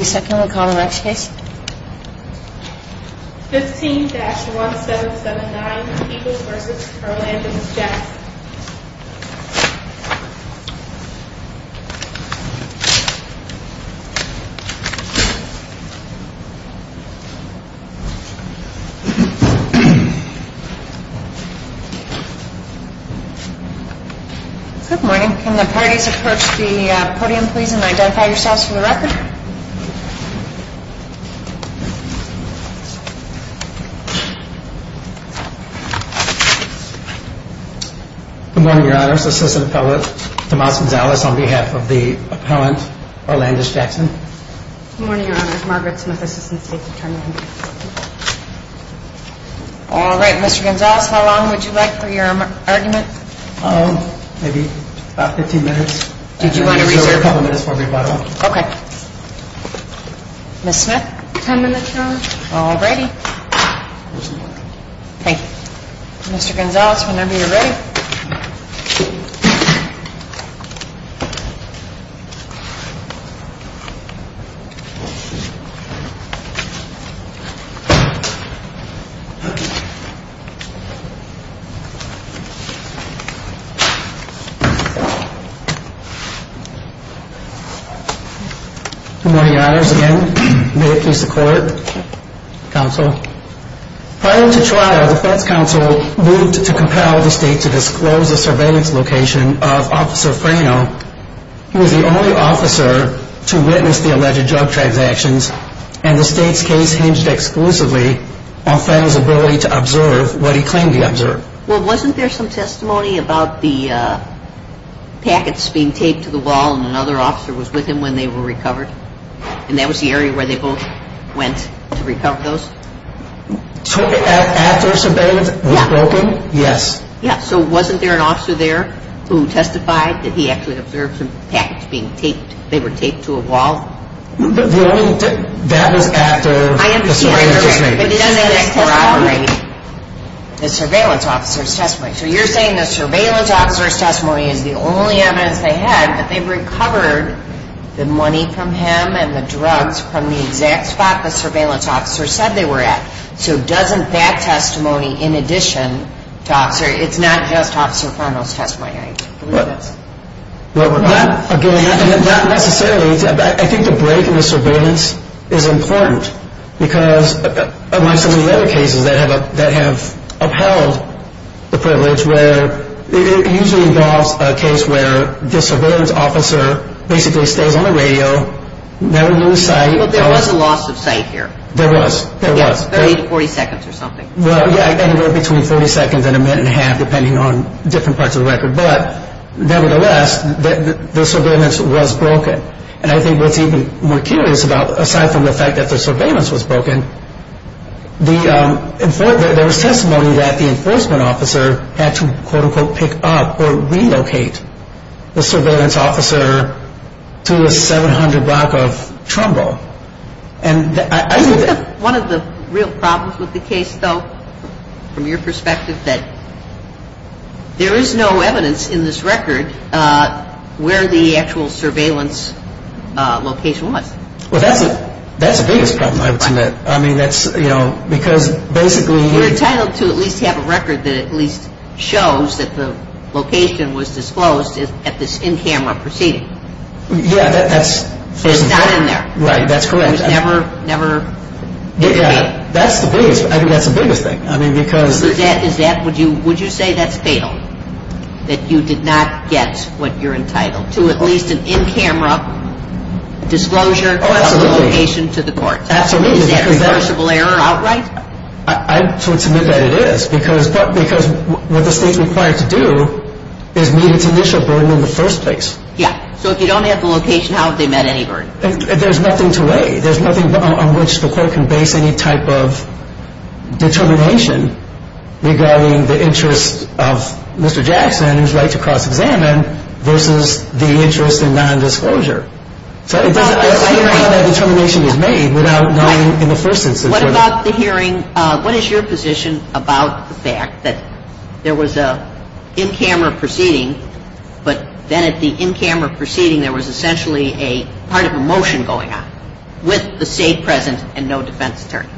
15-1779 Peoples v. Herland and the Jets Good morning. Can the parties approach the podium please and identify yourselves for Good morning, your honors. Assistant appellate Tomas Gonzalez on behalf of the appellant Orlandis Jackson. Good morning, your honors. Margaret Smith, Assistant State Attorney Alright, Mr. Gonzalez, how long would you like for your argument? Maybe about 15 minutes. Did you want to reserve a couple minutes for rebuttal? Okay. Ms. Smith? Ten minutes, your honors. Alrighty. Thank you. Mr. Gonzalez, whenever you're ready. Good morning, your honors. Again, may it please the court, counsel. Prior to trial, the Feds counsel moved to compel the state to disclose the surveillance location of Officer Frano. He was the only officer to witness the alleged drug transactions and the state's case hinged exclusively on Frano's ability to observe what he claimed to observe. Well, wasn't there some testimony about the packets being taped to the wall and another officer was with him when they were recovered? And that was the area where they both went to recover those? After surveillance was broken, yes. Yeah, so wasn't there an officer there who testified that he actually observed some packets being taped, they were taped to a wall? That was after the surveillance testimony. I understand, but doesn't that corroborate the surveillance officer's testimony? So you're saying the surveillance officer's testimony is the only evidence they had that they recovered the money from him and the drugs from the exact spot the surveillance officer said they were at. So doesn't that testimony, in addition to officer, it's not just Officer Frano's testimony? Not necessarily. I think the break in the surveillance is important because of some of the other cases that have upheld the privilege where it usually involves a case where the surveillance officer basically stays on the radio, never knew the site. But there was a loss of sight here? There was. 30 to 40 seconds or something. Yeah, anywhere between 40 seconds and a minute and a half, depending on different parts of the record. But nevertheless, the surveillance was broken. And I think what's even more curious about, aside from the fact that the surveillance was broken, there was testimony that the enforcement officer had to quote unquote pick up or relocate the surveillance officer to a 700 block of Trumbull. I think one of the real problems with the case, though, from your perspective, that there is no evidence in this record where the actual surveillance location was. Well, that's the biggest problem, I would submit. I mean, that's, you know, because basically You're entitled to at least have a record that at least shows that the location was disclosed at this in-camera proceeding. Yeah, that's It's not in there. Right, that's correct. It was never, never indicated. That's the biggest, I think that's the biggest thing. I mean, because Is that, would you say that's fatal? That you did not get what you're entitled to? At least an in-camera disclosure of the location to the courts? Absolutely. Is that reversible error outright? I would submit that it is. Because what the state's required to do is meet its initial burden in the first place. Yeah, so if you don't have the location, how have they met any burden? There's nothing to weigh. There's nothing on which the court can base any type of determination regarding the interests of Mr. Jackson, who's right to cross-examine, versus the interest in nondisclosure. So it doesn't, I don't know how that determination is made without knowing in the first instance whether What about the hearing, what is your position about the fact that there was an in-camera proceeding but then at the in-camera proceeding there was essentially a part of a motion going on with the state present and no defense attorney?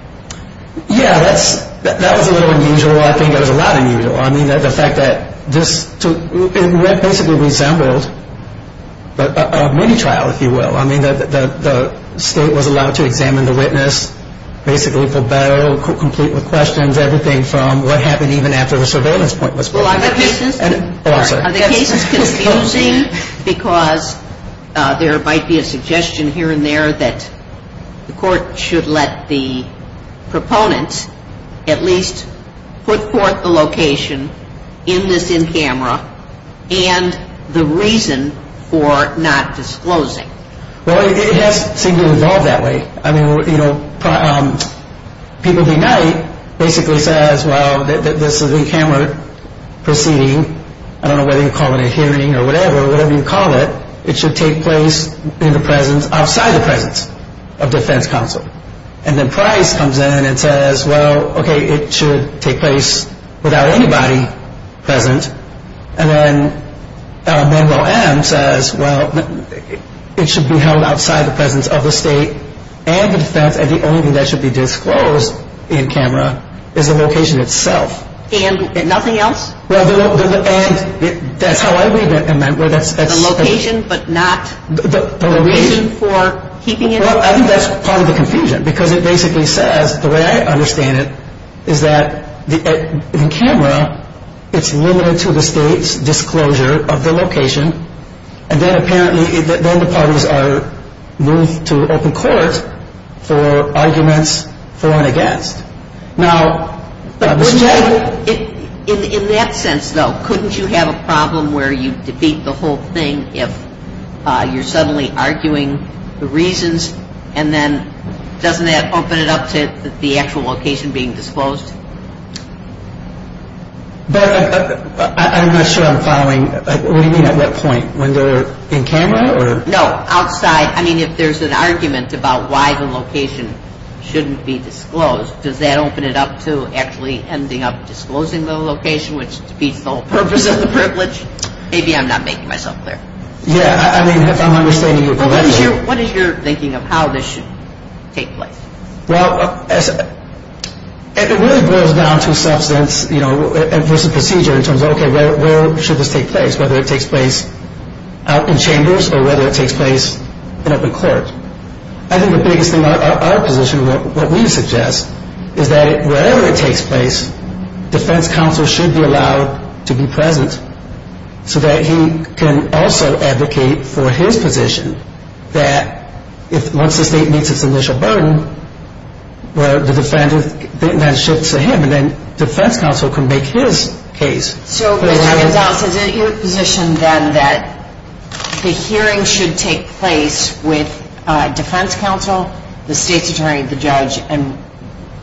Yeah, that's, that was a little unusual. I think it was a lot unusual. I mean, the fact that this, it basically resembled a mini-trial, if you will. I mean, the state was allowed to examine the witness, basically for battle, complete with questions, Are the cases confusing because there might be a suggestion here and there that the court should let the proponents at least put forth the location in this in-camera and the reason for not disclosing? Well, it has seemed to resolve that way. I mean, you know, People Deny basically says, well, this is an in-camera proceeding, I don't know whether you call it a hearing or whatever, whatever you call it, it should take place in the presence, outside the presence of defense counsel. And then Price comes in and says, well, okay, it should take place without anybody present. And then Monroe M. says, well, it should be held outside the presence of the state and the defense and the only thing that should be disclosed in-camera is the location itself. And nothing else? Well, and that's how I read it. The location but not the reason for keeping it? Well, I think that's part of the confusion because it basically says, the way I understand it, is that in-camera it's limited to the state's disclosure of the location and then apparently then the parties are moved to open court for arguments for and against. Now, Mr. Jay? In that sense, though, couldn't you have a problem where you defeat the whole thing if you're suddenly arguing the reasons and then doesn't that open it up to the actual location being disclosed? Beth, I'm not sure I'm following. What do you mean at what point? When they're in-camera or? No, outside. I mean, if there's an argument about why the location shouldn't be disclosed, does that open it up to actually ending up disclosing the location, which defeats the whole purpose of the privilege? Maybe I'm not making myself clear. Yeah, I mean, if I'm understanding you correctly. What is your thinking of how this should take place? Well, it really boils down to substance versus procedure in terms of, okay, where should this take place, whether it takes place out in chambers or whether it takes place in open court. I think the biggest thing our position, what we suggest, is that wherever it takes place, defense counsel should be allowed to be present so that he can also advocate for his position that once the state meets its initial burden, the defendant then shifts to him and then defense counsel can make his case. So, Mr. Gonzales, is it your position then that the hearing should take place with defense counsel, the state's attorney, the judge, and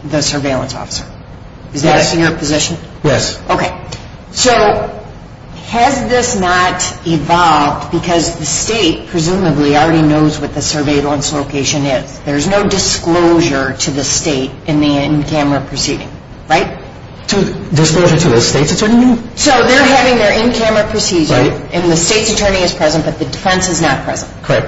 the surveillance officer? Yes. Is that your position? Yes. Okay. So has this not evolved because the state presumably already knows what the surveillance location is? There's no disclosure to the state in the in-camera proceeding, right? Disclosure to the state's attorney? So they're having their in-camera procedure and the state's attorney is present but the defense is not present. Correct.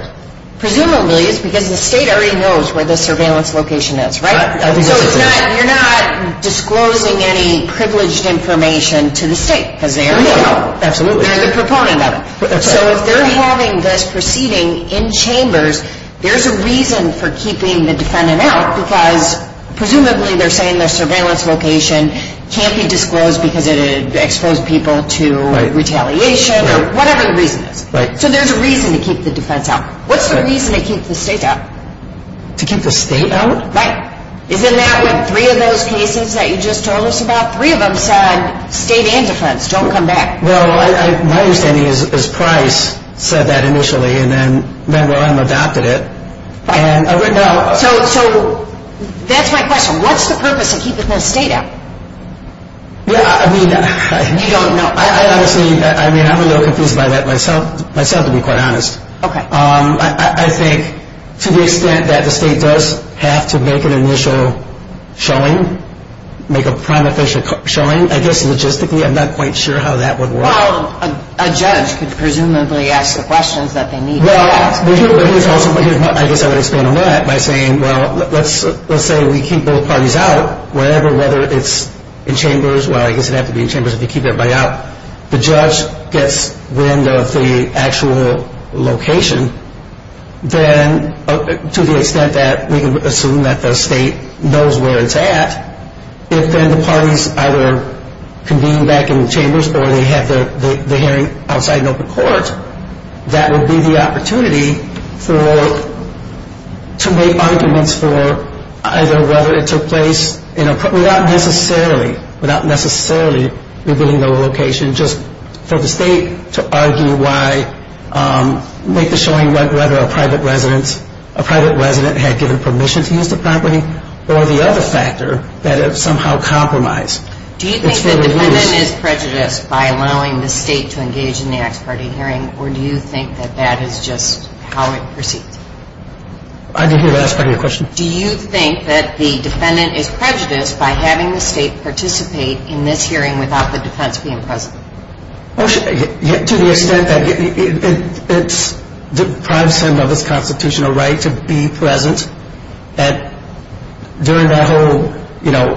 Presumably it's because the state already knows where the surveillance location is, right? So you're not disclosing any privileged information to the state because they already know. Absolutely. They're the proponent of it. So if they're having this proceeding in chambers, there's a reason for keeping the defendant out because presumably they're saying their surveillance location can't be disclosed because it would expose people to retaliation or whatever the reason is. Right. So there's a reason to keep the defense out. What's the reason to keep the state out? To keep the state out? Right. Isn't that what three of those cases that you just told us about? Three of them said state and defense, don't come back. Well, my understanding is Price said that initially and then Member M adopted it. So that's my question. What's the purpose of keeping the state out? I mean, I'm a little confused by that myself to be quite honest. Okay. I think to the extent that the state does have to make an initial showing, make a prima facie showing, I guess logistically I'm not quite sure how that would work. Well, a judge could presumably ask the questions that they need to ask. Well, I guess I would expand on that by saying, well, let's say we keep both parties out, whether it's in chambers, well, I guess it'd have to be in chambers if you keep everybody out. If the judge gets wind of the actual location, then to the extent that we can assume that the state knows where it's at, if then the parties either convene back in the chambers or they have the hearing outside an open court, that would be the opportunity to make arguments for either whether it took place in a, without necessarily revealing the location, just for the state to argue why, make the showing whether a private resident had given permission to use the property or the other factor that it somehow compromised. Do you think the defendant is prejudiced by allowing the state to engage in the Axe Party hearing or do you think that that is just how it proceeds? I didn't hear the Axe Party question. Do you think that the defendant is prejudiced by having the state participate in this hearing without the defense being present? To the extent that it deprives him of his constitutional right to be present during that whole, you know,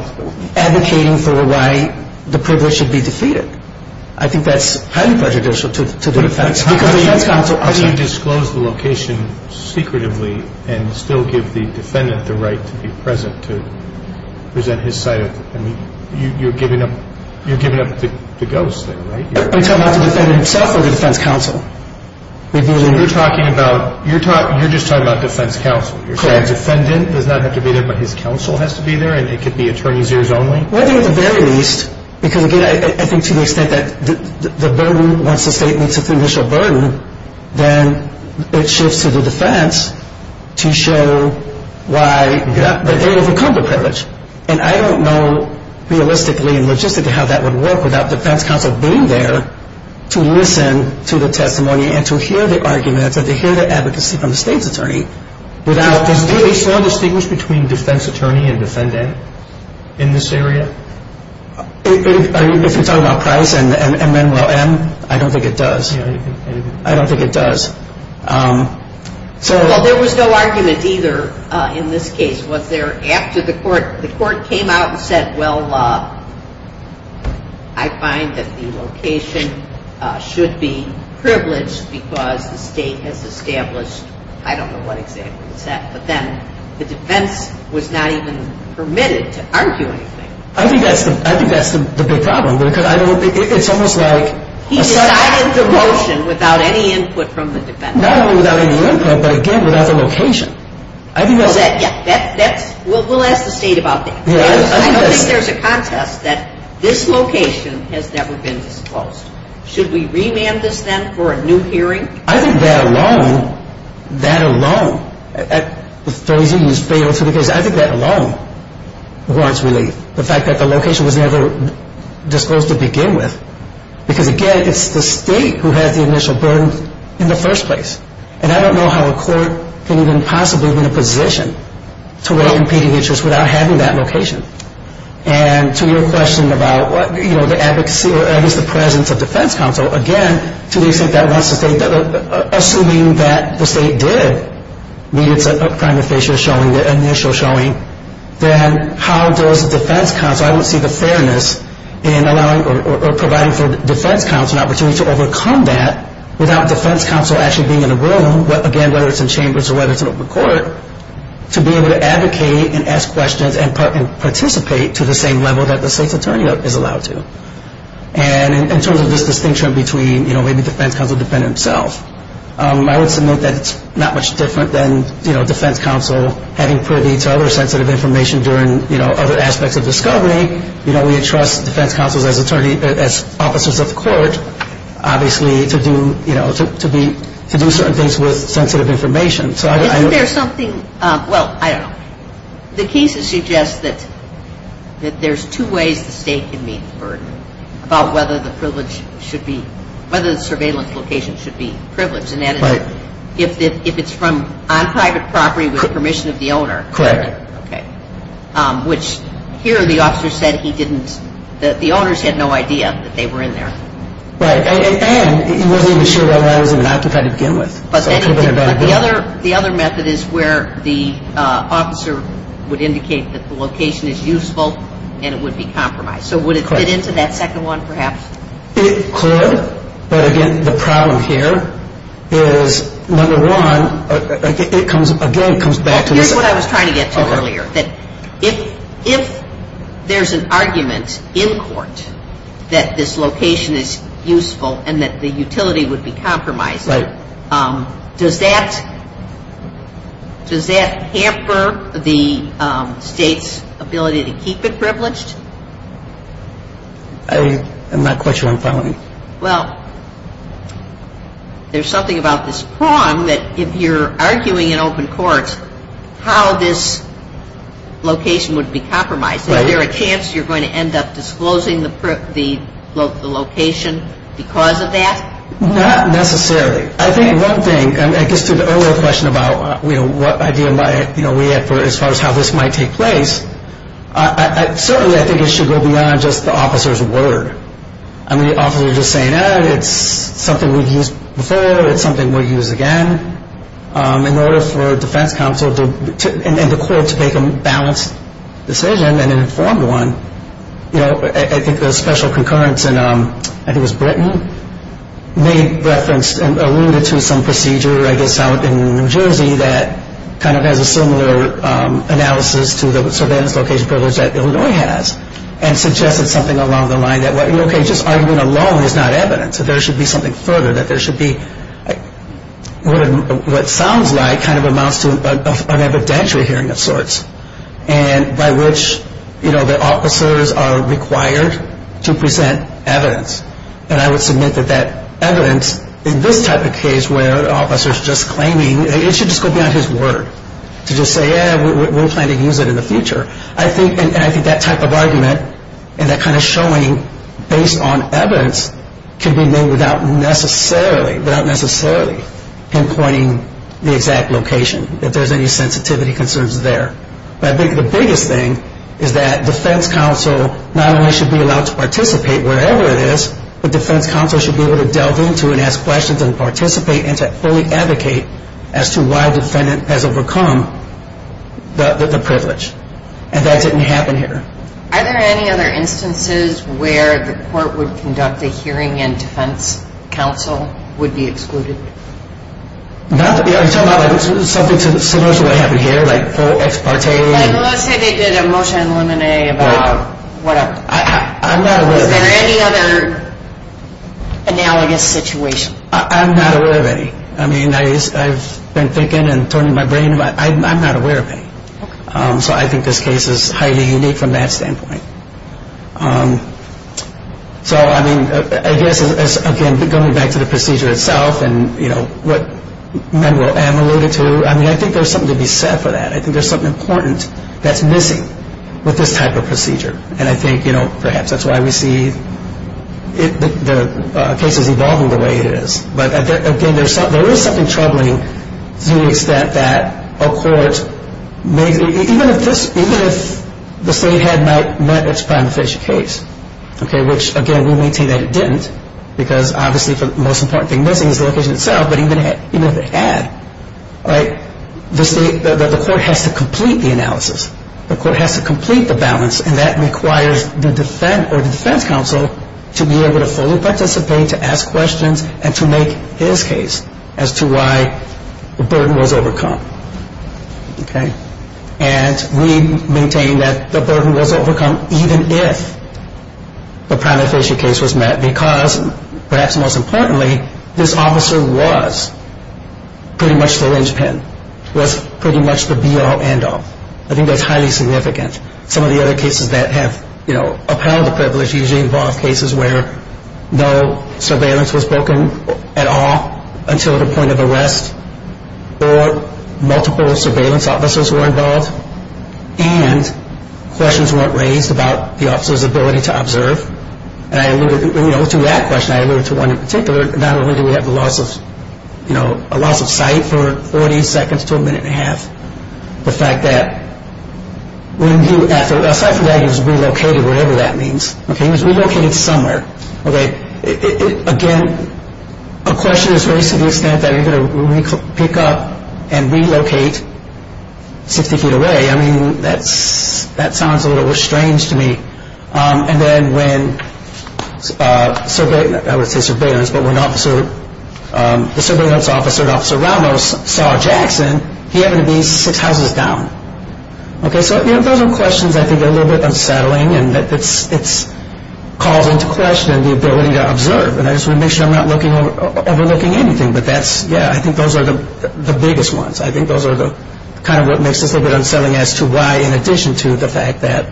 advocating for why the privilege should be defeated. I think that's highly prejudicial to the defense. How do you disclose the location secretively and still give the defendant the right to be present to present his side of the, I mean, you're giving up the ghost there, right? I'm talking about the defendant himself or the defense counsel? You're talking about, you're just talking about defense counsel. The defendant does not have to be there but his counsel has to be there and it could be attorneys' ears only? I think at the very least, because again, I think to the extent that the burden, once the state meets its initial burden, then it shifts to the defense to show why, that they overcome the privilege. And I don't know realistically and logistically how that would work without defense counsel being there to listen to the testimony and to hear the arguments and to hear the advocacy from the state's attorney. Does the DA still distinguish between defense attorney and defendant in this area? If you're talking about Price and Manuel M., I don't think it does. I don't think it does. Well, there was no argument either in this case. Was there after the court came out and said, well, I find that the location should be privileged because the state has established, I don't know what example it's at, but then the defense was not even permitted to argue anything. I think that's the big problem because it's almost like a second- He decided the motion without any input from the defense. Not only without any input but, again, without the location. I think that's- Well, we'll ask the state about that. I don't think there's a contest that this location has never been disclosed. Should we remand this then for a new hearing? I think that alone, that alone, I think that alone warrants relief. The fact that the location was never disclosed to begin with. Because, again, it's the state who has the initial burden in the first place. And I don't know how a court can even possibly be in a position to weigh competing interests without having that location. And to your question about the advocacy or at least the presence of defense counsel, again, assuming that the state did need its primary facial showing, the initial showing, then how does the defense counsel- I don't see the fairness in allowing or providing for defense counsel an opportunity to overcome that without defense counsel actually being in a room, again, whether it's in chambers or whether it's in a court, to be able to advocate and ask questions and participate to the same level that the state's attorney is allowed to. And in terms of this distinction between maybe defense counsel defending himself, I would submit that it's not much different than defense counsel having privy to other sensitive information during other aspects of discovery. We entrust defense counsels as officers of the court, obviously, to do certain things with sensitive information. Isn't there something-well, I don't know. The case suggests that there's two ways the state can meet the burden about whether the privilege should be- whether the surveillance location should be privileged. And that is if it's from on private property with permission of the owner. Correct. Okay. Which here the officer said he didn't-the owners had no idea that they were in there. Right. And he wasn't even sure why he was even occupied to begin with. But the other method is where the officer would indicate that the location is useful and it would be compromised. So would it fit into that second one, perhaps? It could, but again, the problem here is, number one, it comes-again, it comes back to this- Here's what I was trying to get to earlier. If there's an argument in court that this location is useful and that the utility would be compromised- Right. Does that hamper the state's ability to keep it privileged? I'm not quite sure I'm following you. Well, there's something about this prong that if you're arguing in open court how this location would be compromised- Right. Is there a chance you're going to end up disclosing the location because of that? Not necessarily. I think one thing, I guess to the earlier question about what idea we have as far as how this might take place, certainly I think it should go beyond just the officer's word. I mean, the officer is just saying, oh, it's something we've used before, it's something we'll use again. In order for defense counsel and the court to make a balanced decision and an informed one, I think the special concurrence in, I think it was Britain, made reference and alluded to some procedure, I guess out in New Jersey that kind of has a similar analysis to the surveillance location privilege that Illinois has and suggested something along the line that, okay, just argument alone is not evidence, that there should be something further, that there should be what sounds like kind of amounts to an evidentiary hearing of sorts by which the officers are required to present evidence. And I would submit that that evidence in this type of case where the officer is just claiming, it should just go beyond his word to just say, yeah, we're planning to use it in the future. I think that type of argument and that kind of showing based on evidence can be made without necessarily, without necessarily pinpointing the exact location, if there's any sensitivity concerns there. But I think the biggest thing is that defense counsel not only should be allowed to participate wherever it is, but defense counsel should be able to delve into it and ask questions and participate and to fully advocate as to why the defendant has overcome the privilege. And that didn't happen here. Are there any other instances where the court would conduct a hearing and defense counsel would be excluded? You're talking about something similar to what happened here, like ex parte? Let's say they did a motion on lemonade about whatever. I'm not aware of that. Is there any other analogous situation? I'm not aware of any. I mean, I've been thinking and turning my brain. I'm not aware of any. So I think this case is highly unique from that standpoint. So, I mean, I guess, again, going back to the procedure itself and, you know, what Manuel M alluded to, I mean, I think there's something to be said for that. I think there's something important that's missing with this type of procedure. And I think, you know, perhaps that's why we see the cases evolving the way it is. But, again, there is something troubling to the extent that a court may, even if this, even if the state had not met its prima facie case, okay, which, again, we maintain that it didn't, because obviously the most important thing missing is the location itself, but even if it had, right, the state, the court has to complete the analysis. The court has to complete the balance. And that requires the defense or the defense counsel to be able to fully participate, to ask questions, and to make his case as to why the burden was overcome, okay. And we maintain that the burden was overcome even if the prima facie case was met, because, perhaps most importantly, this officer was pretty much the linchpin, was pretty much the be-all, end-all. I think that's highly significant. Some of the other cases that have, you know, upheld the privilege usually involve cases where no surveillance was broken at all until the point of arrest, or multiple surveillance officers were involved, and questions weren't raised about the officer's ability to observe. And I alluded, you know, to that question, I alluded to one in particular, not only do we have the loss of, you know, a loss of sight for 40 seconds to a minute and a half, the fact that when you, aside from that, he was relocated, whatever that means. He was relocated somewhere. Again, a question is raised to the extent that you're going to pick up and relocate 60 feet away. I mean, that sounds a little strange to me. And then when surveillance, I wouldn't say surveillance, but when the surveillance officer, Officer Ramos, saw Jackson, he happened to be six houses down. Okay, so those are questions I think are a little bit unsettling, and it calls into question the ability to observe. And I just want to make sure I'm not overlooking anything. But that's, yeah, I think those are the biggest ones. I think those are kind of what makes this a little bit unsettling as to why, in addition to the fact that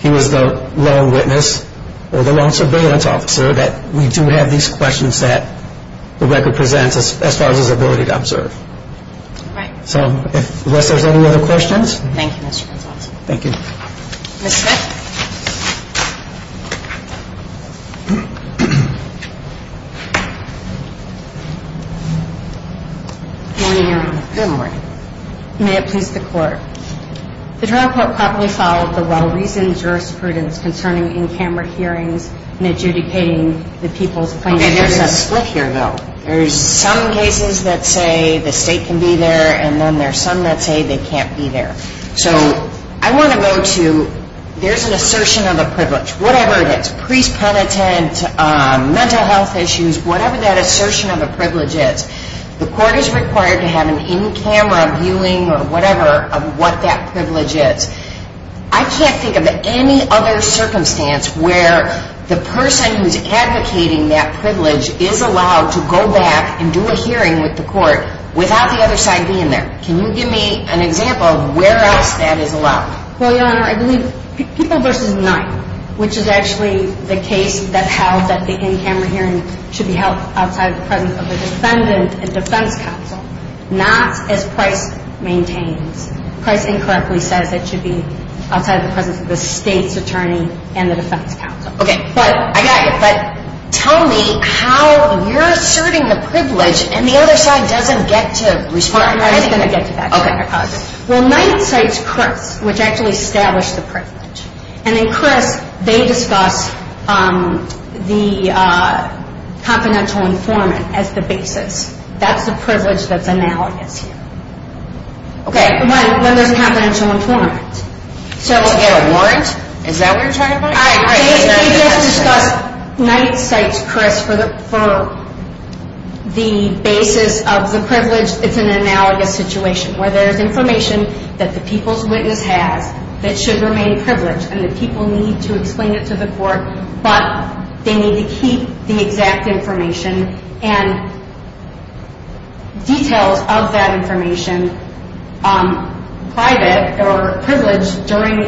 he was the lone witness, or the lone surveillance officer, that we do have these questions that the record presents as far as his ability to observe. All right. So unless there's any other questions. Thank you, Mr. Gonzalez. Thank you. Ms. Smith. Good morning, Your Honor. Good morning. May it please the Court. The trial court properly followed the well-reasoned jurisprudence concerning in-camera hearings and adjudicating the people's claims. Okay, there's a split here, though. There's some cases that say the state can be there, and then there's some that say they can't be there. So I want to go to there's an assertion of a privilege. Whatever it is, priest penitent, mental health issues, whatever that assertion of a privilege is, the Court is required to have an in-camera viewing or whatever of what that privilege is. I can't think of any other circumstance where the person who's advocating that privilege is allowed to go back and do a hearing with the Court without the other side being there. Can you give me an example of where else that is allowed? Well, Your Honor, I believe people versus night, which is actually the case that held that the in-camera hearing should be held outside the presence of a defendant and defense counsel, not as Price maintains. Price incorrectly says it should be outside the presence of the state's attorney and the defense counsel. Okay, I got you. But tell me how you're asserting the privilege and the other side doesn't get to respond. Well, night cites Criss, which actually established the privilege. And in Criss, they discuss the confidential informant as the basis. That's the privilege that's analogous here. Okay. When there's a confidential informant. To get a warrant? Is that what you're talking about? They just discuss night cites Criss for the basis of the privilege. It's an analogous situation where there's information that the people's witness has that should remain privileged and the people need to explain it to the Court, but they need to keep the exact information and details of that information private or privileged during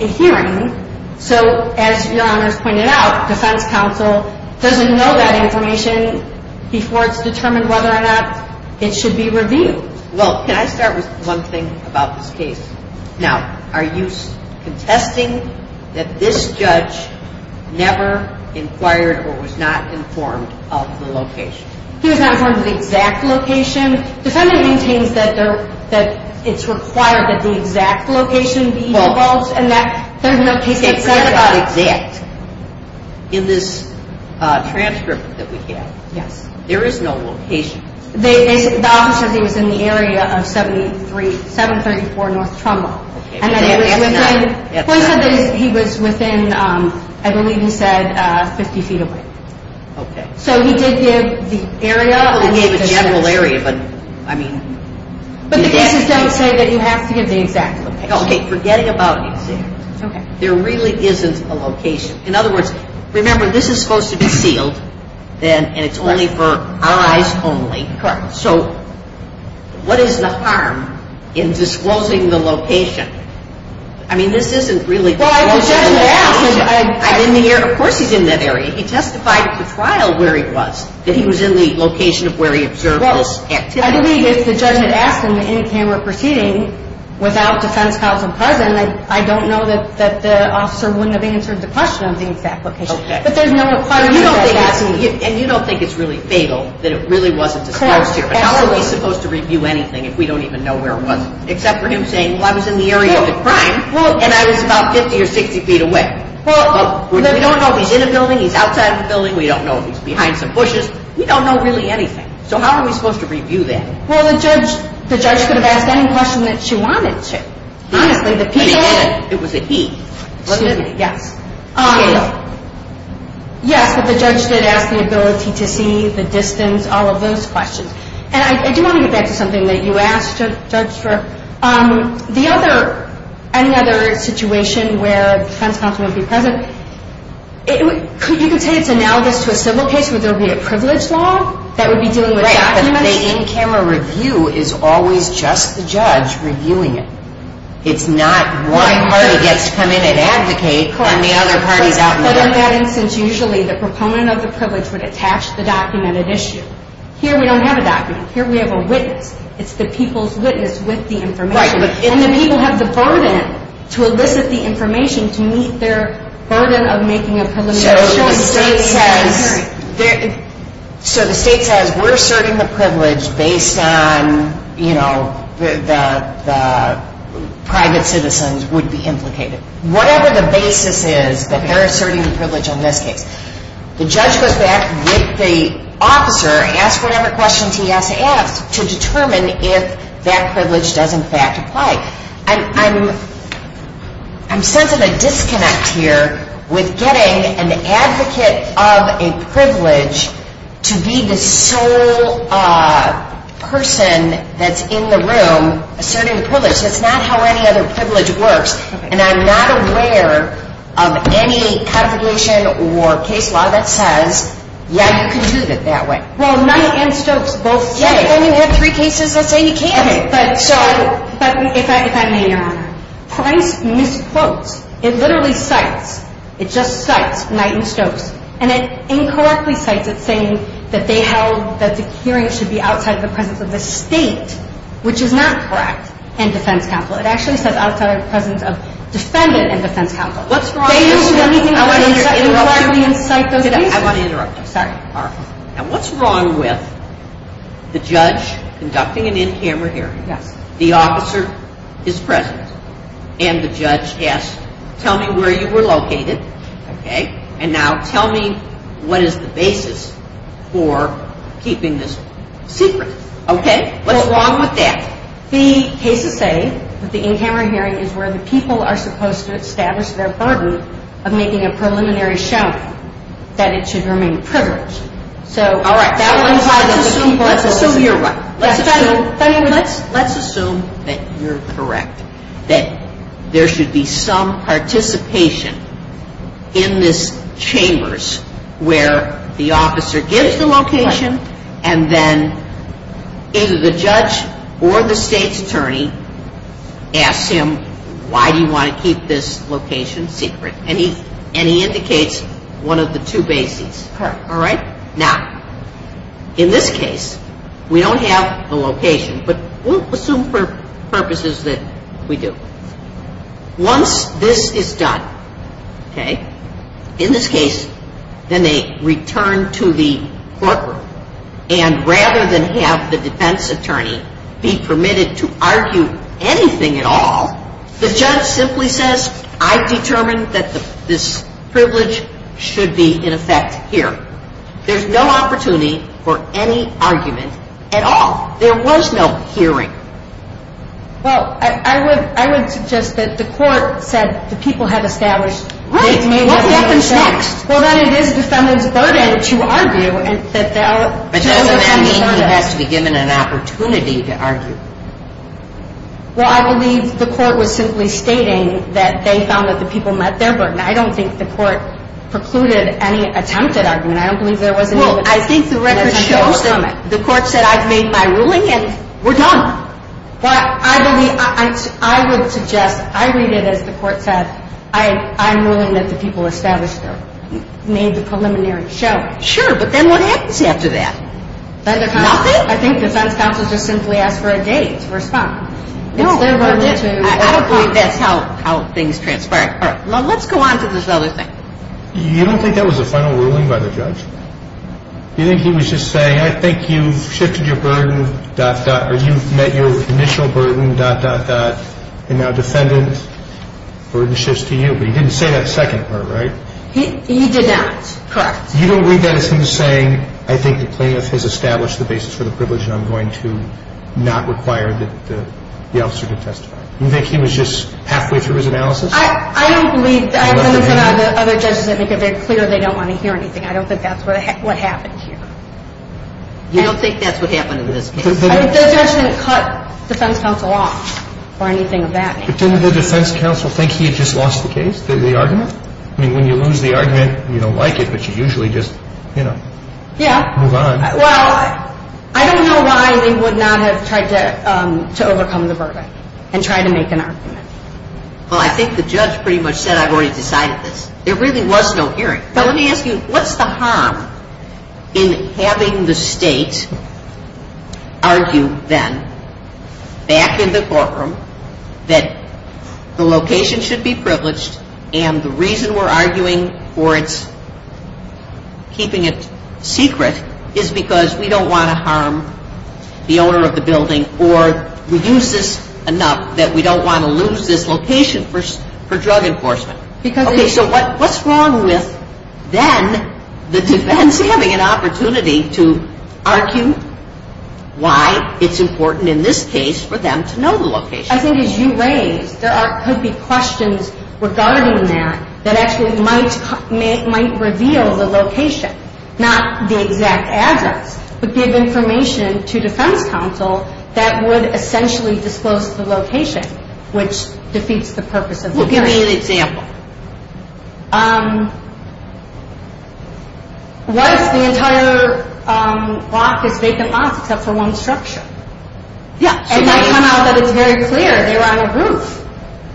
a hearing. So as Your Honors pointed out, defense counsel doesn't know that information before it's determined whether or not it should be reviewed. Well, can I start with one thing about this case? Now, are you contesting that this judge never inquired or was not informed of the location? He was not informed of the exact location. Defendant maintains that it's required that the exact location be divulged and that there's no case that says that. Okay, so it's not exact. In this transcript that we have, there is no location. The office says he was in the area of 734 North Trumbull. And that he was within, I believe he said, 50 feet away. Okay. So he did give the area. He gave a general area, but I mean. But the cases don't say that you have to give the exact location. Okay, forgetting about the exact location. Okay. There really isn't a location. In other words, remember, this is supposed to be sealed and it's only for eyes only. Correct. So what is the harm in disclosing the location? I mean, this isn't really disclosing. Well, if the judge had asked him. I'm in the area. Of course he's in that area. He testified at the trial where he was, that he was in the location of where he observed this activity. Well, I believe if the judge had asked him in a camera proceeding without defense counsel present, then I don't know that the officer wouldn't have answered the question on the exact location. Okay. But there's no requirement. And you don't think it's really fatal that it really wasn't disclosed here. Correct. Absolutely. But how are we supposed to review anything if we don't even know where it was? Except for him saying, well, I was in the area of the crime and I was about 50 or 60 feet away. Well. We don't know if he's in a building, he's outside of a building. We don't know if he's behind some bushes. We don't know really anything. So how are we supposed to review that? Well, the judge could have asked any question that she wanted to. But he didn't. It was a he. Excuse me. Yes. Yes, but the judge did ask the ability to see, the distance, all of those questions. And I do want to get back to something that you asked the judge for. The other, any other situation where defense counsel would be present, you could say it's analogous to a civil case where there would be a privilege law that would be dealing with documents. Right, but the in-camera review is always just the judge reviewing it. It's not one party gets to come in and advocate on the other party's out-in-the-open. But in that instance, usually the proponent of the privilege would attach the documented issue. Here we don't have a document. Here we have a witness. It's the people's witness with the information. Right. And the people have the burden to elicit the information to meet their burden of making a privilege. So the state says we're asserting the privilege based on, you know, the private citizens would be implicated. Whatever the basis is that they're asserting the privilege in this case, the judge goes back with the officer, asks whatever questions he has to ask, to determine if that privilege does in fact apply. I'm sensing a disconnect here with getting an advocate of a privilege to be the sole person that's in the room asserting the privilege. That's not how any other privilege works. And I'm not aware of any application or case law that says, yeah, you can do it that way. Well, not in Stokes, both states. Yeah, but when you have three cases that say you can't. Okay, but if I may, Your Honor, Price misquotes. It literally cites, it just cites Knight and Stokes, and it incorrectly cites it saying that they held that the hearing should be outside of the presence of the state, which is not correct, and defense counsel. It actually says outside of the presence of defendant and defense counsel. What's wrong with that? I want to interrupt you. I want to interrupt you. Sorry. Now, what's wrong with the judge conducting an in-camera hearing, the officer is present, and the judge asks, tell me where you were located, okay, and now tell me what is the basis for keeping this secret, okay? What's wrong with that? The cases say that the in-camera hearing is where the people are supposed to establish their burden of making a preliminary shout that it should remain a privilege. All right. Let's assume you're right. Let's assume that you're correct, that there should be some participation in this chambers where the officer gives the location and then either the judge or the state's attorney asks him, why do you want to keep this location secret? And he indicates one of the two bases. All right. Now, in this case, we don't have a location, but we'll assume for purposes that we do. Once this is done, okay, in this case, then they return to the courtroom, and rather than have the defense attorney be permitted to argue anything at all, the judge simply says, I've determined that this privilege should be, in effect, here. There's no opportunity for any argument at all. There was no hearing. Well, I would suggest that the court said the people had established. Right. What happens next? Well, then it is the defendant's burden to argue. But doesn't that mean he has to be given an opportunity to argue? Well, I believe the court was simply stating that they found that the people met their burden. I don't think the court precluded any attempted argument. I don't believe there was any. Well, I think the record shows that the court said, I've made my ruling, and we're done. Well, I would suggest, I read it as the court said, I'm willing that the people established made the preliminary show. Sure, but then what happens after that? Nothing. I think defense counsel just simply asked for a date to respond. No. I don't believe that's how things transpired. All right. Well, let's go on to this other thing. You don't think that was a final ruling by the judge? You think he was just saying, I think you've shifted your burden, dot, dot, or you've met your initial burden, dot, dot, dot, and now defendant, burden shifts to you. But he didn't say that second part, right? He did not. Correct. You don't read that as him saying, I think the plaintiff has established the basis for the privilege, and I'm going to not require the officer to testify. You think he was just halfway through his analysis? I don't believe that. I have been in front of other judges that make it very clear they don't want to hear anything. I don't think that's what happened here. You don't think that's what happened in this case? The judge didn't cut defense counsel off or anything of that nature. But didn't the defense counsel think he had just lost the case, the argument? I mean, when you lose the argument, you don't like it, but you usually just, you know, move on. Well, I don't know why they would not have tried to overcome the verdict and try to make an argument. Well, I think the judge pretty much said, I've already decided this. There really was no hearing. But let me ask you, what's the harm in having the state argue then back in the courtroom that the location should be privileged and the reason we're arguing for keeping it secret is because we don't want to harm the owner of the building or reduce this enough that we don't want to lose this location for drug enforcement? Okay, so what's wrong with then the defense having an opportunity to argue why it's important in this case for them to know the location? I think as you raised, there could be questions regarding that that actually might reveal the location, not the exact address, but give information to defense counsel that would essentially disclose the location, which defeats the purpose of the hearing. Well, give me an example. What if the entire lot is vacant lots except for one structure? Yeah. It might come out that it's very clear. They were on a roof.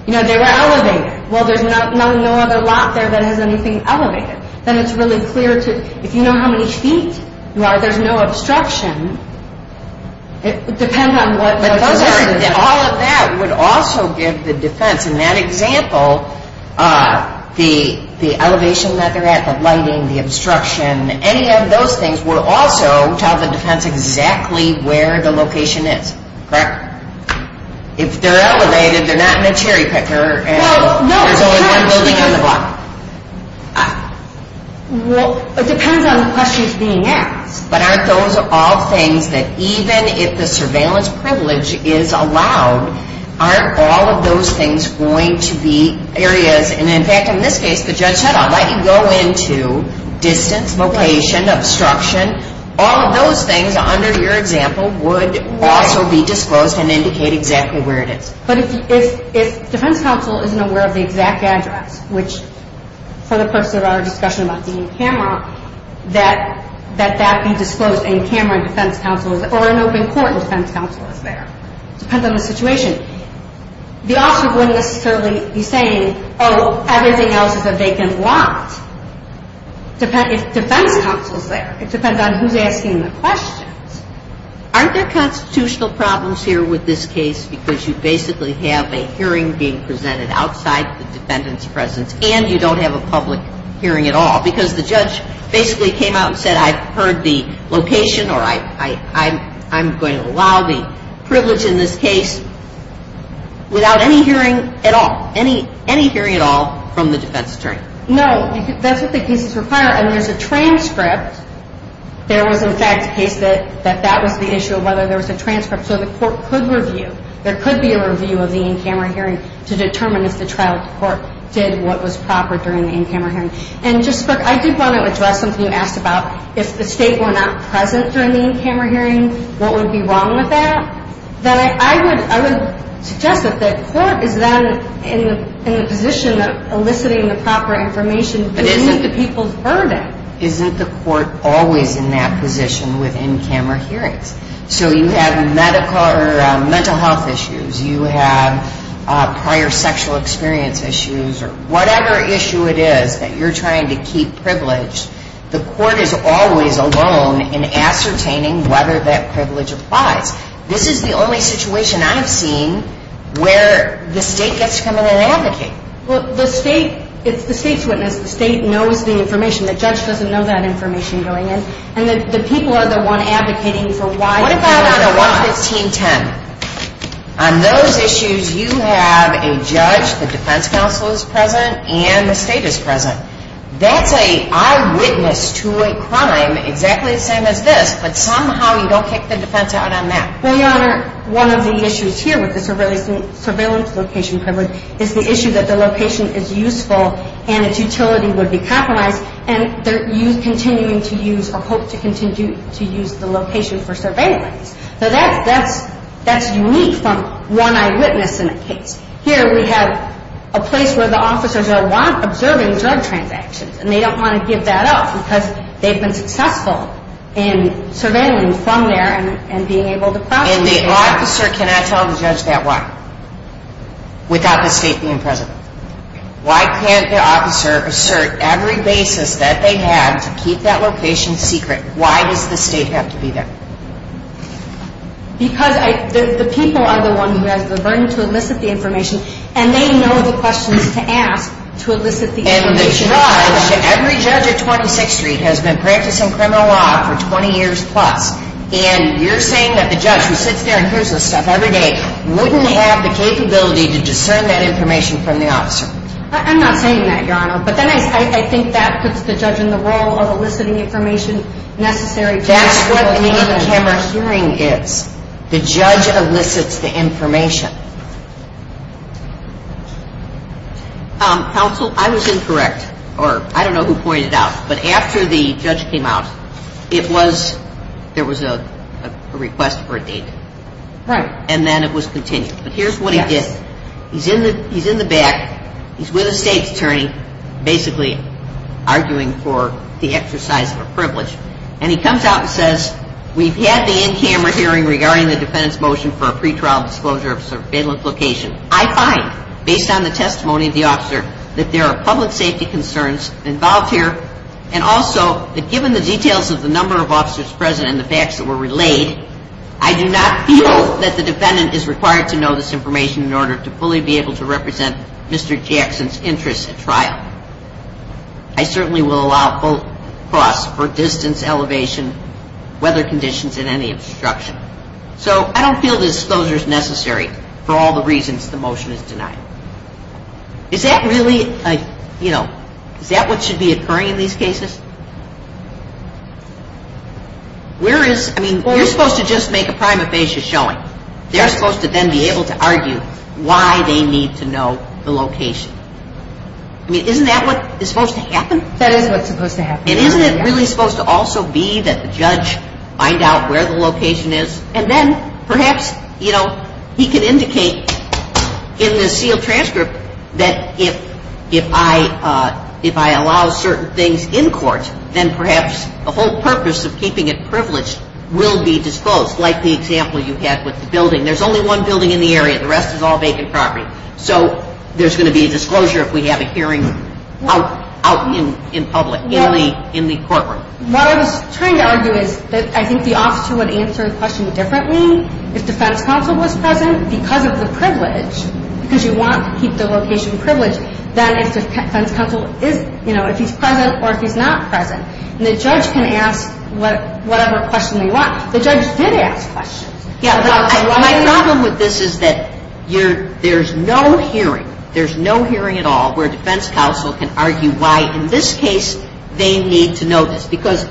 You know, they were elevated. Well, there's no other lot there that has anything elevated. Then it's really clear to, if you know how many feet there are, there's no obstruction. It would depend on what the location is. All of that would also give the defense, in that example, the elevation that they're at, the lighting, the obstruction, any of those things would also tell the defense exactly where the location is. Correct? If they're elevated, they're not in a cherry picker and there's only one building on the block. Well, it depends on the questions being asked. But aren't those all things that even if the surveillance privilege is allowed, aren't all of those things going to be areas? And, in fact, in this case, the judge said, I'll let you go into distance, location, obstruction. All of those things under your example would also be disclosed and indicate exactly where it is. But if defense counsel isn't aware of the exact address, which for the purpose of our discussion about being in camera, that that be disclosed in camera and defense counsel, or in open court and defense counsel is there. It depends on the situation. The officer wouldn't necessarily be saying, oh, everything else is a vacant lot. It depends if defense counsel is there. It depends on who's asking the questions. Aren't there constitutional problems here with this case because you basically have a hearing being presented outside the defendant's presence and you don't have a public hearing at all because the judge basically came out and said, I've heard the location or I'm going to allow the privilege in this case without any hearing at all. Any hearing at all from the defense attorney. No, that's what the cases require. And there's a transcript. There was, in fact, a case that that was the issue of whether there was a transcript. So the court could review. There could be a review of the in-camera hearing to determine if the trial court did what was proper during the in-camera hearing. And just, Brooke, I did want to address something you asked about. If the state were not present during the in-camera hearing, what would be wrong with that? Then I would suggest that the court is then in the position of eliciting the proper information. But isn't the people's burden? Isn't the court always in that position with in-camera hearings? So you have medical or mental health issues. You have prior sexual experience issues. Whatever issue it is that you're trying to keep privileged, the court is always alone in ascertaining whether that privilege applies. This is the only situation I've seen where the state gets to come in and advocate. Well, the state, it's the state's witness. The state knows the information. The judge doesn't know that information going in. And the people are the one advocating for why. Now, what about on a 11510? On those issues, you have a judge, the defense counsel is present, and the state is present. That's an eyewitness to a crime exactly the same as this, but somehow you don't kick the defense out on that. Well, Your Honor, one of the issues here with the surveillance location privilege is the issue that the location is useful and its utility would be compromised, and they're continuing to use or hope to continue to use the location for surveillance. So that's unique from one eyewitness in a case. Here we have a place where the officers are observing drug transactions, and they don't want to give that up because they've been successful in surveilling from there and being able to prosecute. And the officer, can I tell the judge that why, without the state being present? Why can't the officer assert every basis that they have to keep that location secret? Why does the state have to be there? Because the people are the ones who have the burden to elicit the information, and they know the questions to ask to elicit the information. And the judge, every judge at 26th Street has been practicing criminal law for 20 years plus, and you're saying that the judge who sits there and hears this stuff every day wouldn't have the capability to discern that information from the officer? I'm not saying that, Your Honor, but then I think that puts the judge in the role of eliciting the information necessary. That's what an in-camera hearing is. The judge elicits the information. Counsel, I was incorrect, or I don't know who pointed it out, but after the judge came out, it was, there was a request for a deed. Right. And then it was continued. Yes. But here's what he did. He's in the back. He's with a state attorney basically arguing for the exercise of a privilege, and he comes out and says, we've had the in-camera hearing regarding the defendant's motion for a pretrial disclosure of surveillance location. I find, based on the testimony of the officer, that there are public safety concerns involved here, and also that given the details of the number of officers present and the facts that were relayed, I do not feel that the defendant is required to know this information in order to fully be able to represent Mr. Jackson's interests at trial. I certainly will allow full cross for distance, elevation, weather conditions, and any obstruction. So I don't feel this disclosure is necessary for all the reasons the motion is denied. Is that really, you know, is that what should be occurring in these cases? Where is, I mean, you're supposed to just make a prima facie showing. They're supposed to then be able to argue why they need to know the location. I mean, isn't that what is supposed to happen? That is what's supposed to happen. And isn't it really supposed to also be that the judge find out where the location is, and then perhaps, you know, he can indicate in the sealed transcript that if I allow certain things in court, then perhaps the whole purpose of keeping it privileged will be disclosed, like the example you had with the building. There's only one building in the area. The rest is all vacant property. So there's going to be a disclosure if we have a hearing out in public, in the courtroom. What I was trying to argue is that I think the officer would answer the question differently if defense counsel was present because of the privilege, because you want to keep the location privileged, than if defense counsel is, you know, if he's present or if he's not present. And the judge can ask whatever question they want. The judge did ask questions. My problem with this is that there's no hearing, there's no hearing at all, where defense counsel can argue why, in this case, they need to know this. Because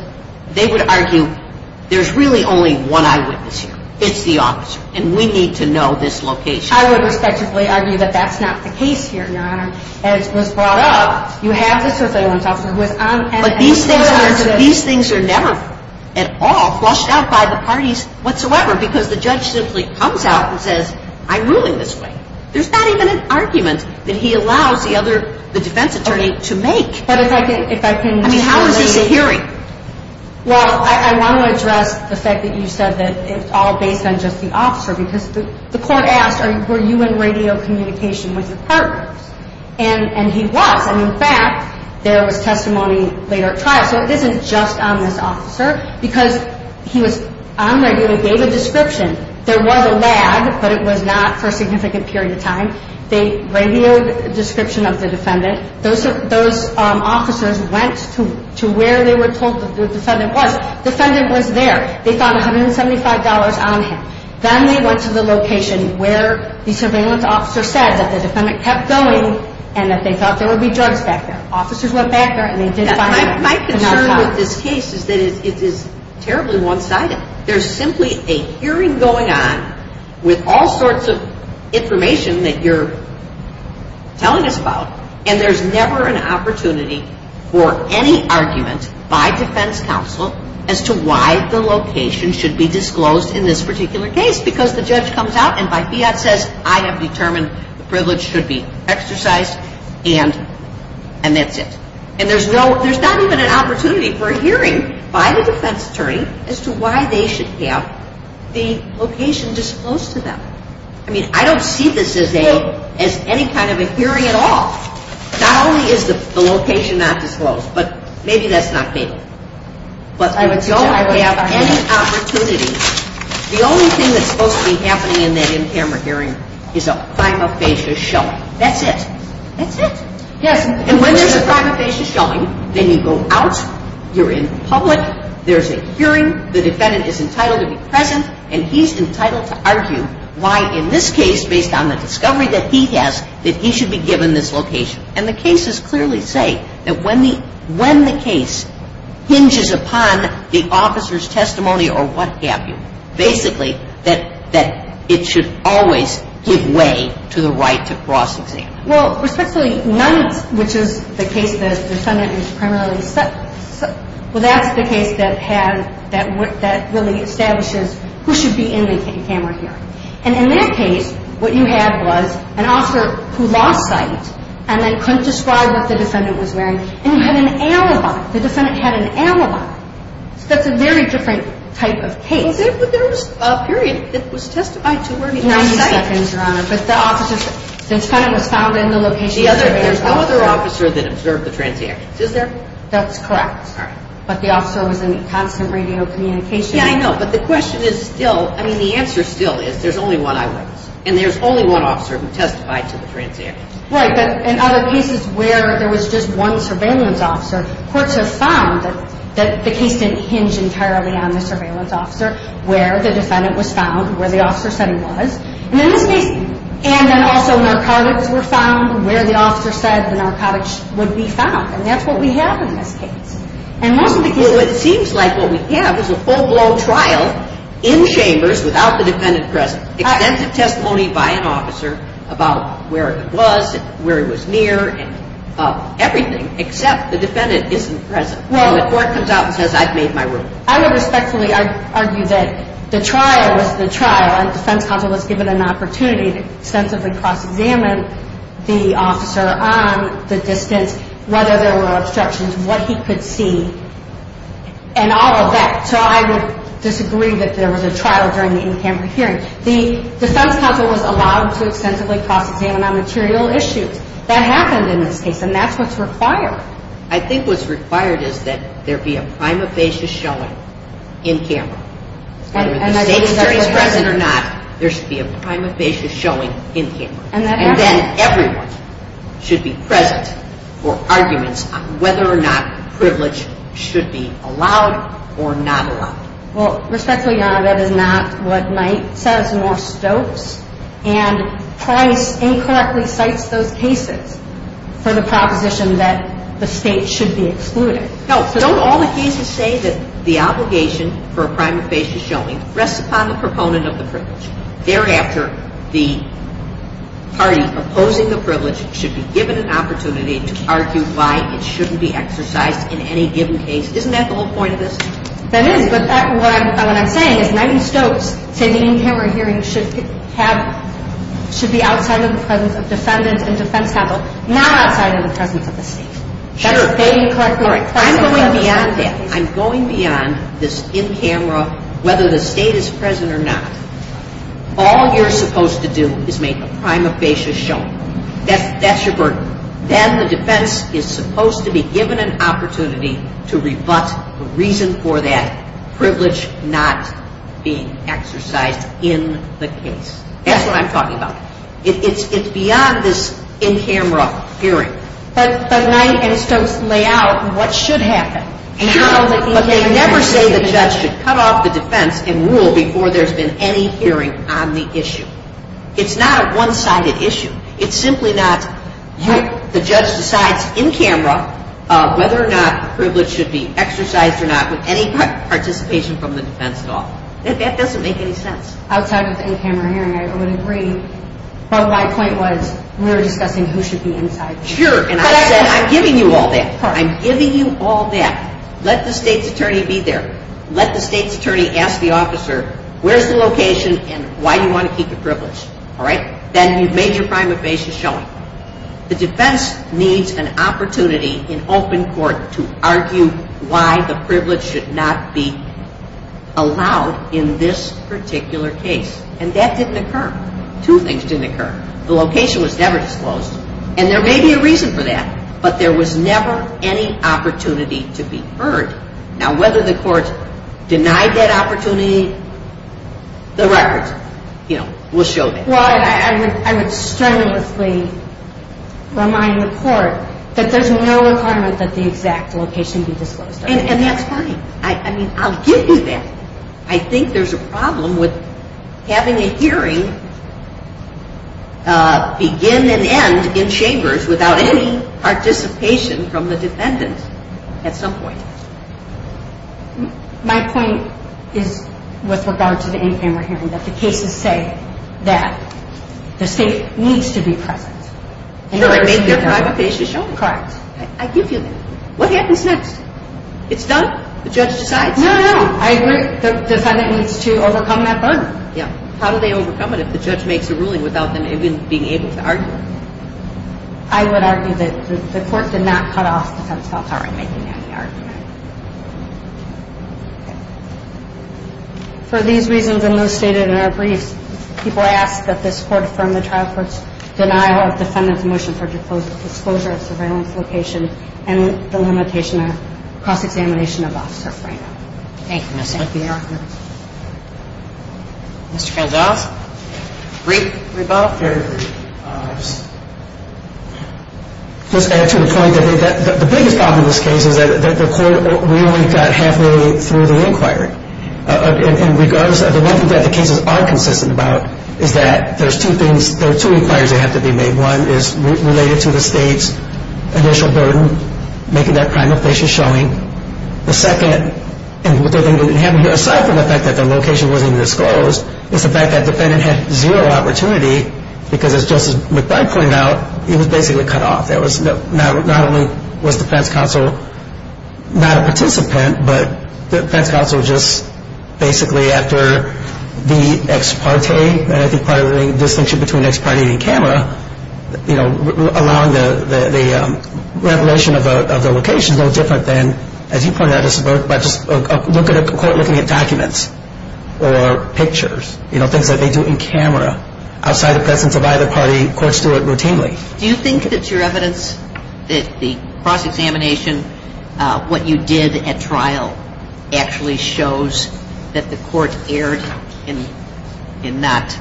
they would argue there's really only one eyewitness here. It's the officer. And we need to know this location. I would respectfully argue that that's not the case here, Your Honor. And it was brought up. You have the surveillance officer. But these things are never at all flushed out by the parties whatsoever because the judge simply comes out and says, I'm ruling this way. There's not even an argument that he allows the defense attorney to make. I mean, how is this a hearing? Well, I want to address the fact that you said that it's all based on just the officer because the court asked, were you in radio communication with your partners? And he was. And, in fact, there was testimony later at trial. So this is just on this officer because he was on radio. He gave a description. There was a lag, but it was not for a significant period of time. They radioed a description of the defendant. Those officers went to where they were told the defendant was. The defendant was there. They found $175 on him. Then they went to the location where the surveillance officer said that the defendant kept going and that they thought there would be drugs back there. Officers went back there and they did find drugs. My concern with this case is that it is terribly one-sided. There's simply a hearing going on with all sorts of information that you're telling us about, and there's never an opportunity for any argument by defense counsel as to why the location should be disclosed in this particular case because the judge comes out and by fiat says, I have determined the privilege should be exercised, and that's it. And there's not even an opportunity for a hearing by the defense attorney as to why they should have the location disclosed to them. I mean, I don't see this as any kind of a hearing at all. Not only is the location not disclosed, but maybe that's not fatal. But I don't have any opportunity. The only thing that's supposed to be happening in that in-camera hearing is a prima facie showing. That's it. That's it. And when there's a prima facie showing, then you go out. You're in public. There's a hearing. The defendant is entitled to be present, and he's entitled to argue why in this case, based on the discovery that he has, that he should be given this location. And the cases clearly say that when the case hinges upon the officer's testimony or what have you, basically that it should always give way to the right to cross-examine. Well, respectfully, Nunn, which is the case that the defendant is primarily set – well, that's the case that really establishes who should be in the in-camera hearing. And in that case, what you had was an officer who lost sight and then couldn't describe what the defendant was wearing. And you had an alibi. The defendant had an alibi. So that's a very different type of case. But there was a period that was testified to where he lost sight. 90 seconds, Your Honor. But the defendant was found in the location – There's no other officer that observed the transients. Is there? That's correct. All right. But the officer was in constant radio communication. Yeah, I know. But the question is still – I mean, the answer still is there's only one eyewitness. And there's only one officer who testified to the transients. Right. But in other cases where there was just one surveillance officer, courts have found that the case didn't hinge entirely on the surveillance officer, where the defendant was found, where the officer said he was. And in this case – and then also narcotics were found where the officer said the narcotics would be found. And that's what we have in this case. And most of the cases – Well, it seems like what we have is a full-blown trial in Chambers without the defendant present. Extensive testimony by an officer about where it was, where it was near, and everything except the defendant isn't present. Well – And the court comes out and says, I've made my ruling. I would respectfully argue that the trial was the trial, and defense counsel was given an opportunity to extensively cross-examine the officer on the distance, whether there were obstructions, what he could see, and all of that. So I would disagree that there was a trial during the in-camera hearing. The defense counsel was allowed to extensively cross-examine on material issues. That happened in this case, and that's what's required. I think what's required is that there be a prima facie showing in-camera. Whether the state attorney is present or not, there should be a prima facie showing in-camera. And then everyone should be present for arguments on whether or not privilege should be allowed or not allowed. Well, respectfully, Your Honor, that is not what Knight says, nor Stokes. And Price incorrectly cites those cases for the proposition that the state should be excluded. No, so don't all the cases say that the obligation for a prima facie showing rests upon the proponent of the privilege? Thereafter, the party opposing the privilege should be given an opportunity to argue why it shouldn't be exercised in any given case. Isn't that the whole point of this? That is, but what I'm saying is Knight and Stokes say the in-camera hearing should be outside of the presence of defendants and defense counsel, not outside of the presence of the state. Sure. I'm going beyond that. All you're supposed to do is make a prima facie showing. That's your burden. Then the defense is supposed to be given an opportunity to rebut the reason for that privilege not being exercised in the case. That's what I'm talking about. It's beyond this in-camera hearing. But Knight and Stokes lay out what should happen. But they never say the judge should cut off the defense and rule before there's been any hearing on the issue. It's not a one-sided issue. It's simply not you. The judge decides in camera whether or not a privilege should be exercised or not with any participation from the defense at all. That doesn't make any sense. Outside of the in-camera hearing, I would agree. But my point was we were discussing who should be inside. Sure, and I said I'm giving you all that. I'm giving you all that. Let the state's attorney be there. Let the state's attorney ask the officer, where's the location and why do you want to keep your privilege? Then you've made your prima facie showing. The defense needs an opportunity in open court to argue why the privilege should not be allowed in this particular case. And that didn't occur. Two things didn't occur. The location was never disclosed. And there may be a reason for that. But there was never any opportunity to be heard. Now, whether the court denied that opportunity, the records will show that. Well, I would strenuously remind the court that there's no requirement that the exact location be disclosed. And that's fine. I mean, I'll give you that. I think there's a problem with having a hearing begin and end in chambers without any participation from the defendant at some point. My point is with regard to the in-camera hearing, that the cases say that the state needs to be present. Sure, and make their prima facie showing. Correct. I give you that. What happens next? It's done. The judge decides. No, no, I agree. The defendant needs to overcome that burden. Yeah. How do they overcome it if the judge makes a ruling without them even being able to argue? I would argue that the court did not cut off the defense without her making any argument. Okay. For these reasons and those stated in our briefs, people ask that this court affirm the trial court's denial of defendant's motion for disclosure of surveillance location and the limitation of cross-examination of Officer Frano. Thank you, Ms. Smith. Thank you, Your Honor. Mr. Gonzalez? Brief rebuttal? Let's add to the point that the biggest problem in this case is that the court really got halfway through the inquiry. And regardless of the one thing that the cases are consistent about is that there's two things, there are two inquiries that have to be made. One is related to the state's initial burden, making that prima facie showing. The second, and what they didn't have here, aside from the fact that their location wasn't disclosed, is the fact that defendant had zero opportunity because, as Justice McBride pointed out, he was basically cut off. Not only was defense counsel not a participant, but defense counsel just basically after the ex parte, and I think part of the distinction between ex parte and camera, allowing the revelation of the location is no different than, as you pointed out, a court looking at documents or pictures, things that they do in camera outside the presence of either party. Courts do it routinely. Do you think that your evidence, that the cross-examination, what you did at trial actually shows that the court erred in not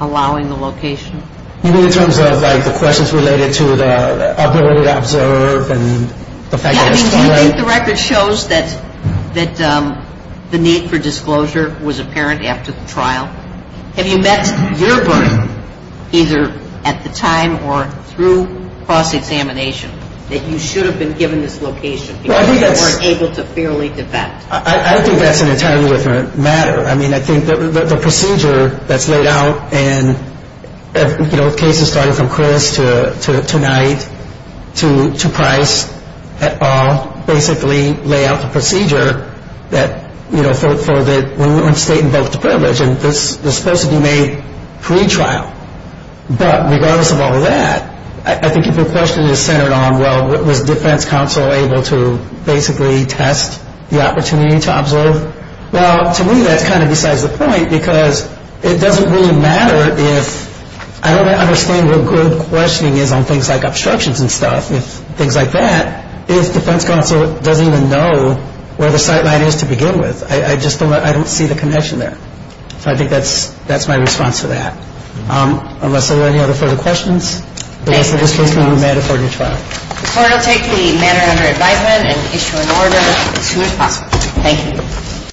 allowing the location? You mean in terms of the questions related to the other way to observe and the fact that it's too late? Do you think the record shows that the need for disclosure was apparent after the trial? Have you met your burden, either at the time or through cross-examination, that you should have been given this location because you weren't able to fairly defend? I don't think that's an entirely different matter. I mean, I think the procedure that's laid out and, you know, the cases starting from Chris to tonight to Price et al. basically lay out the procedure that, you know, for the state invoked privilege, and this was supposed to be made pre-trial. But regardless of all of that, I think if your question is centered on, well, was defense counsel able to basically test the opportunity to observe, well, to me that's kind of besides the point because it doesn't really matter if, I don't understand what good questioning is on things like obstructions and stuff, things like that, if defense counsel doesn't even know where the sight line is to begin with. I just don't see the connection there. So I think that's my response to that. Unless there are any other further questions, the rest of this case will be a matter for a new trial. The court will take the matter under advisement and issue an order as soon as possible. Thank you.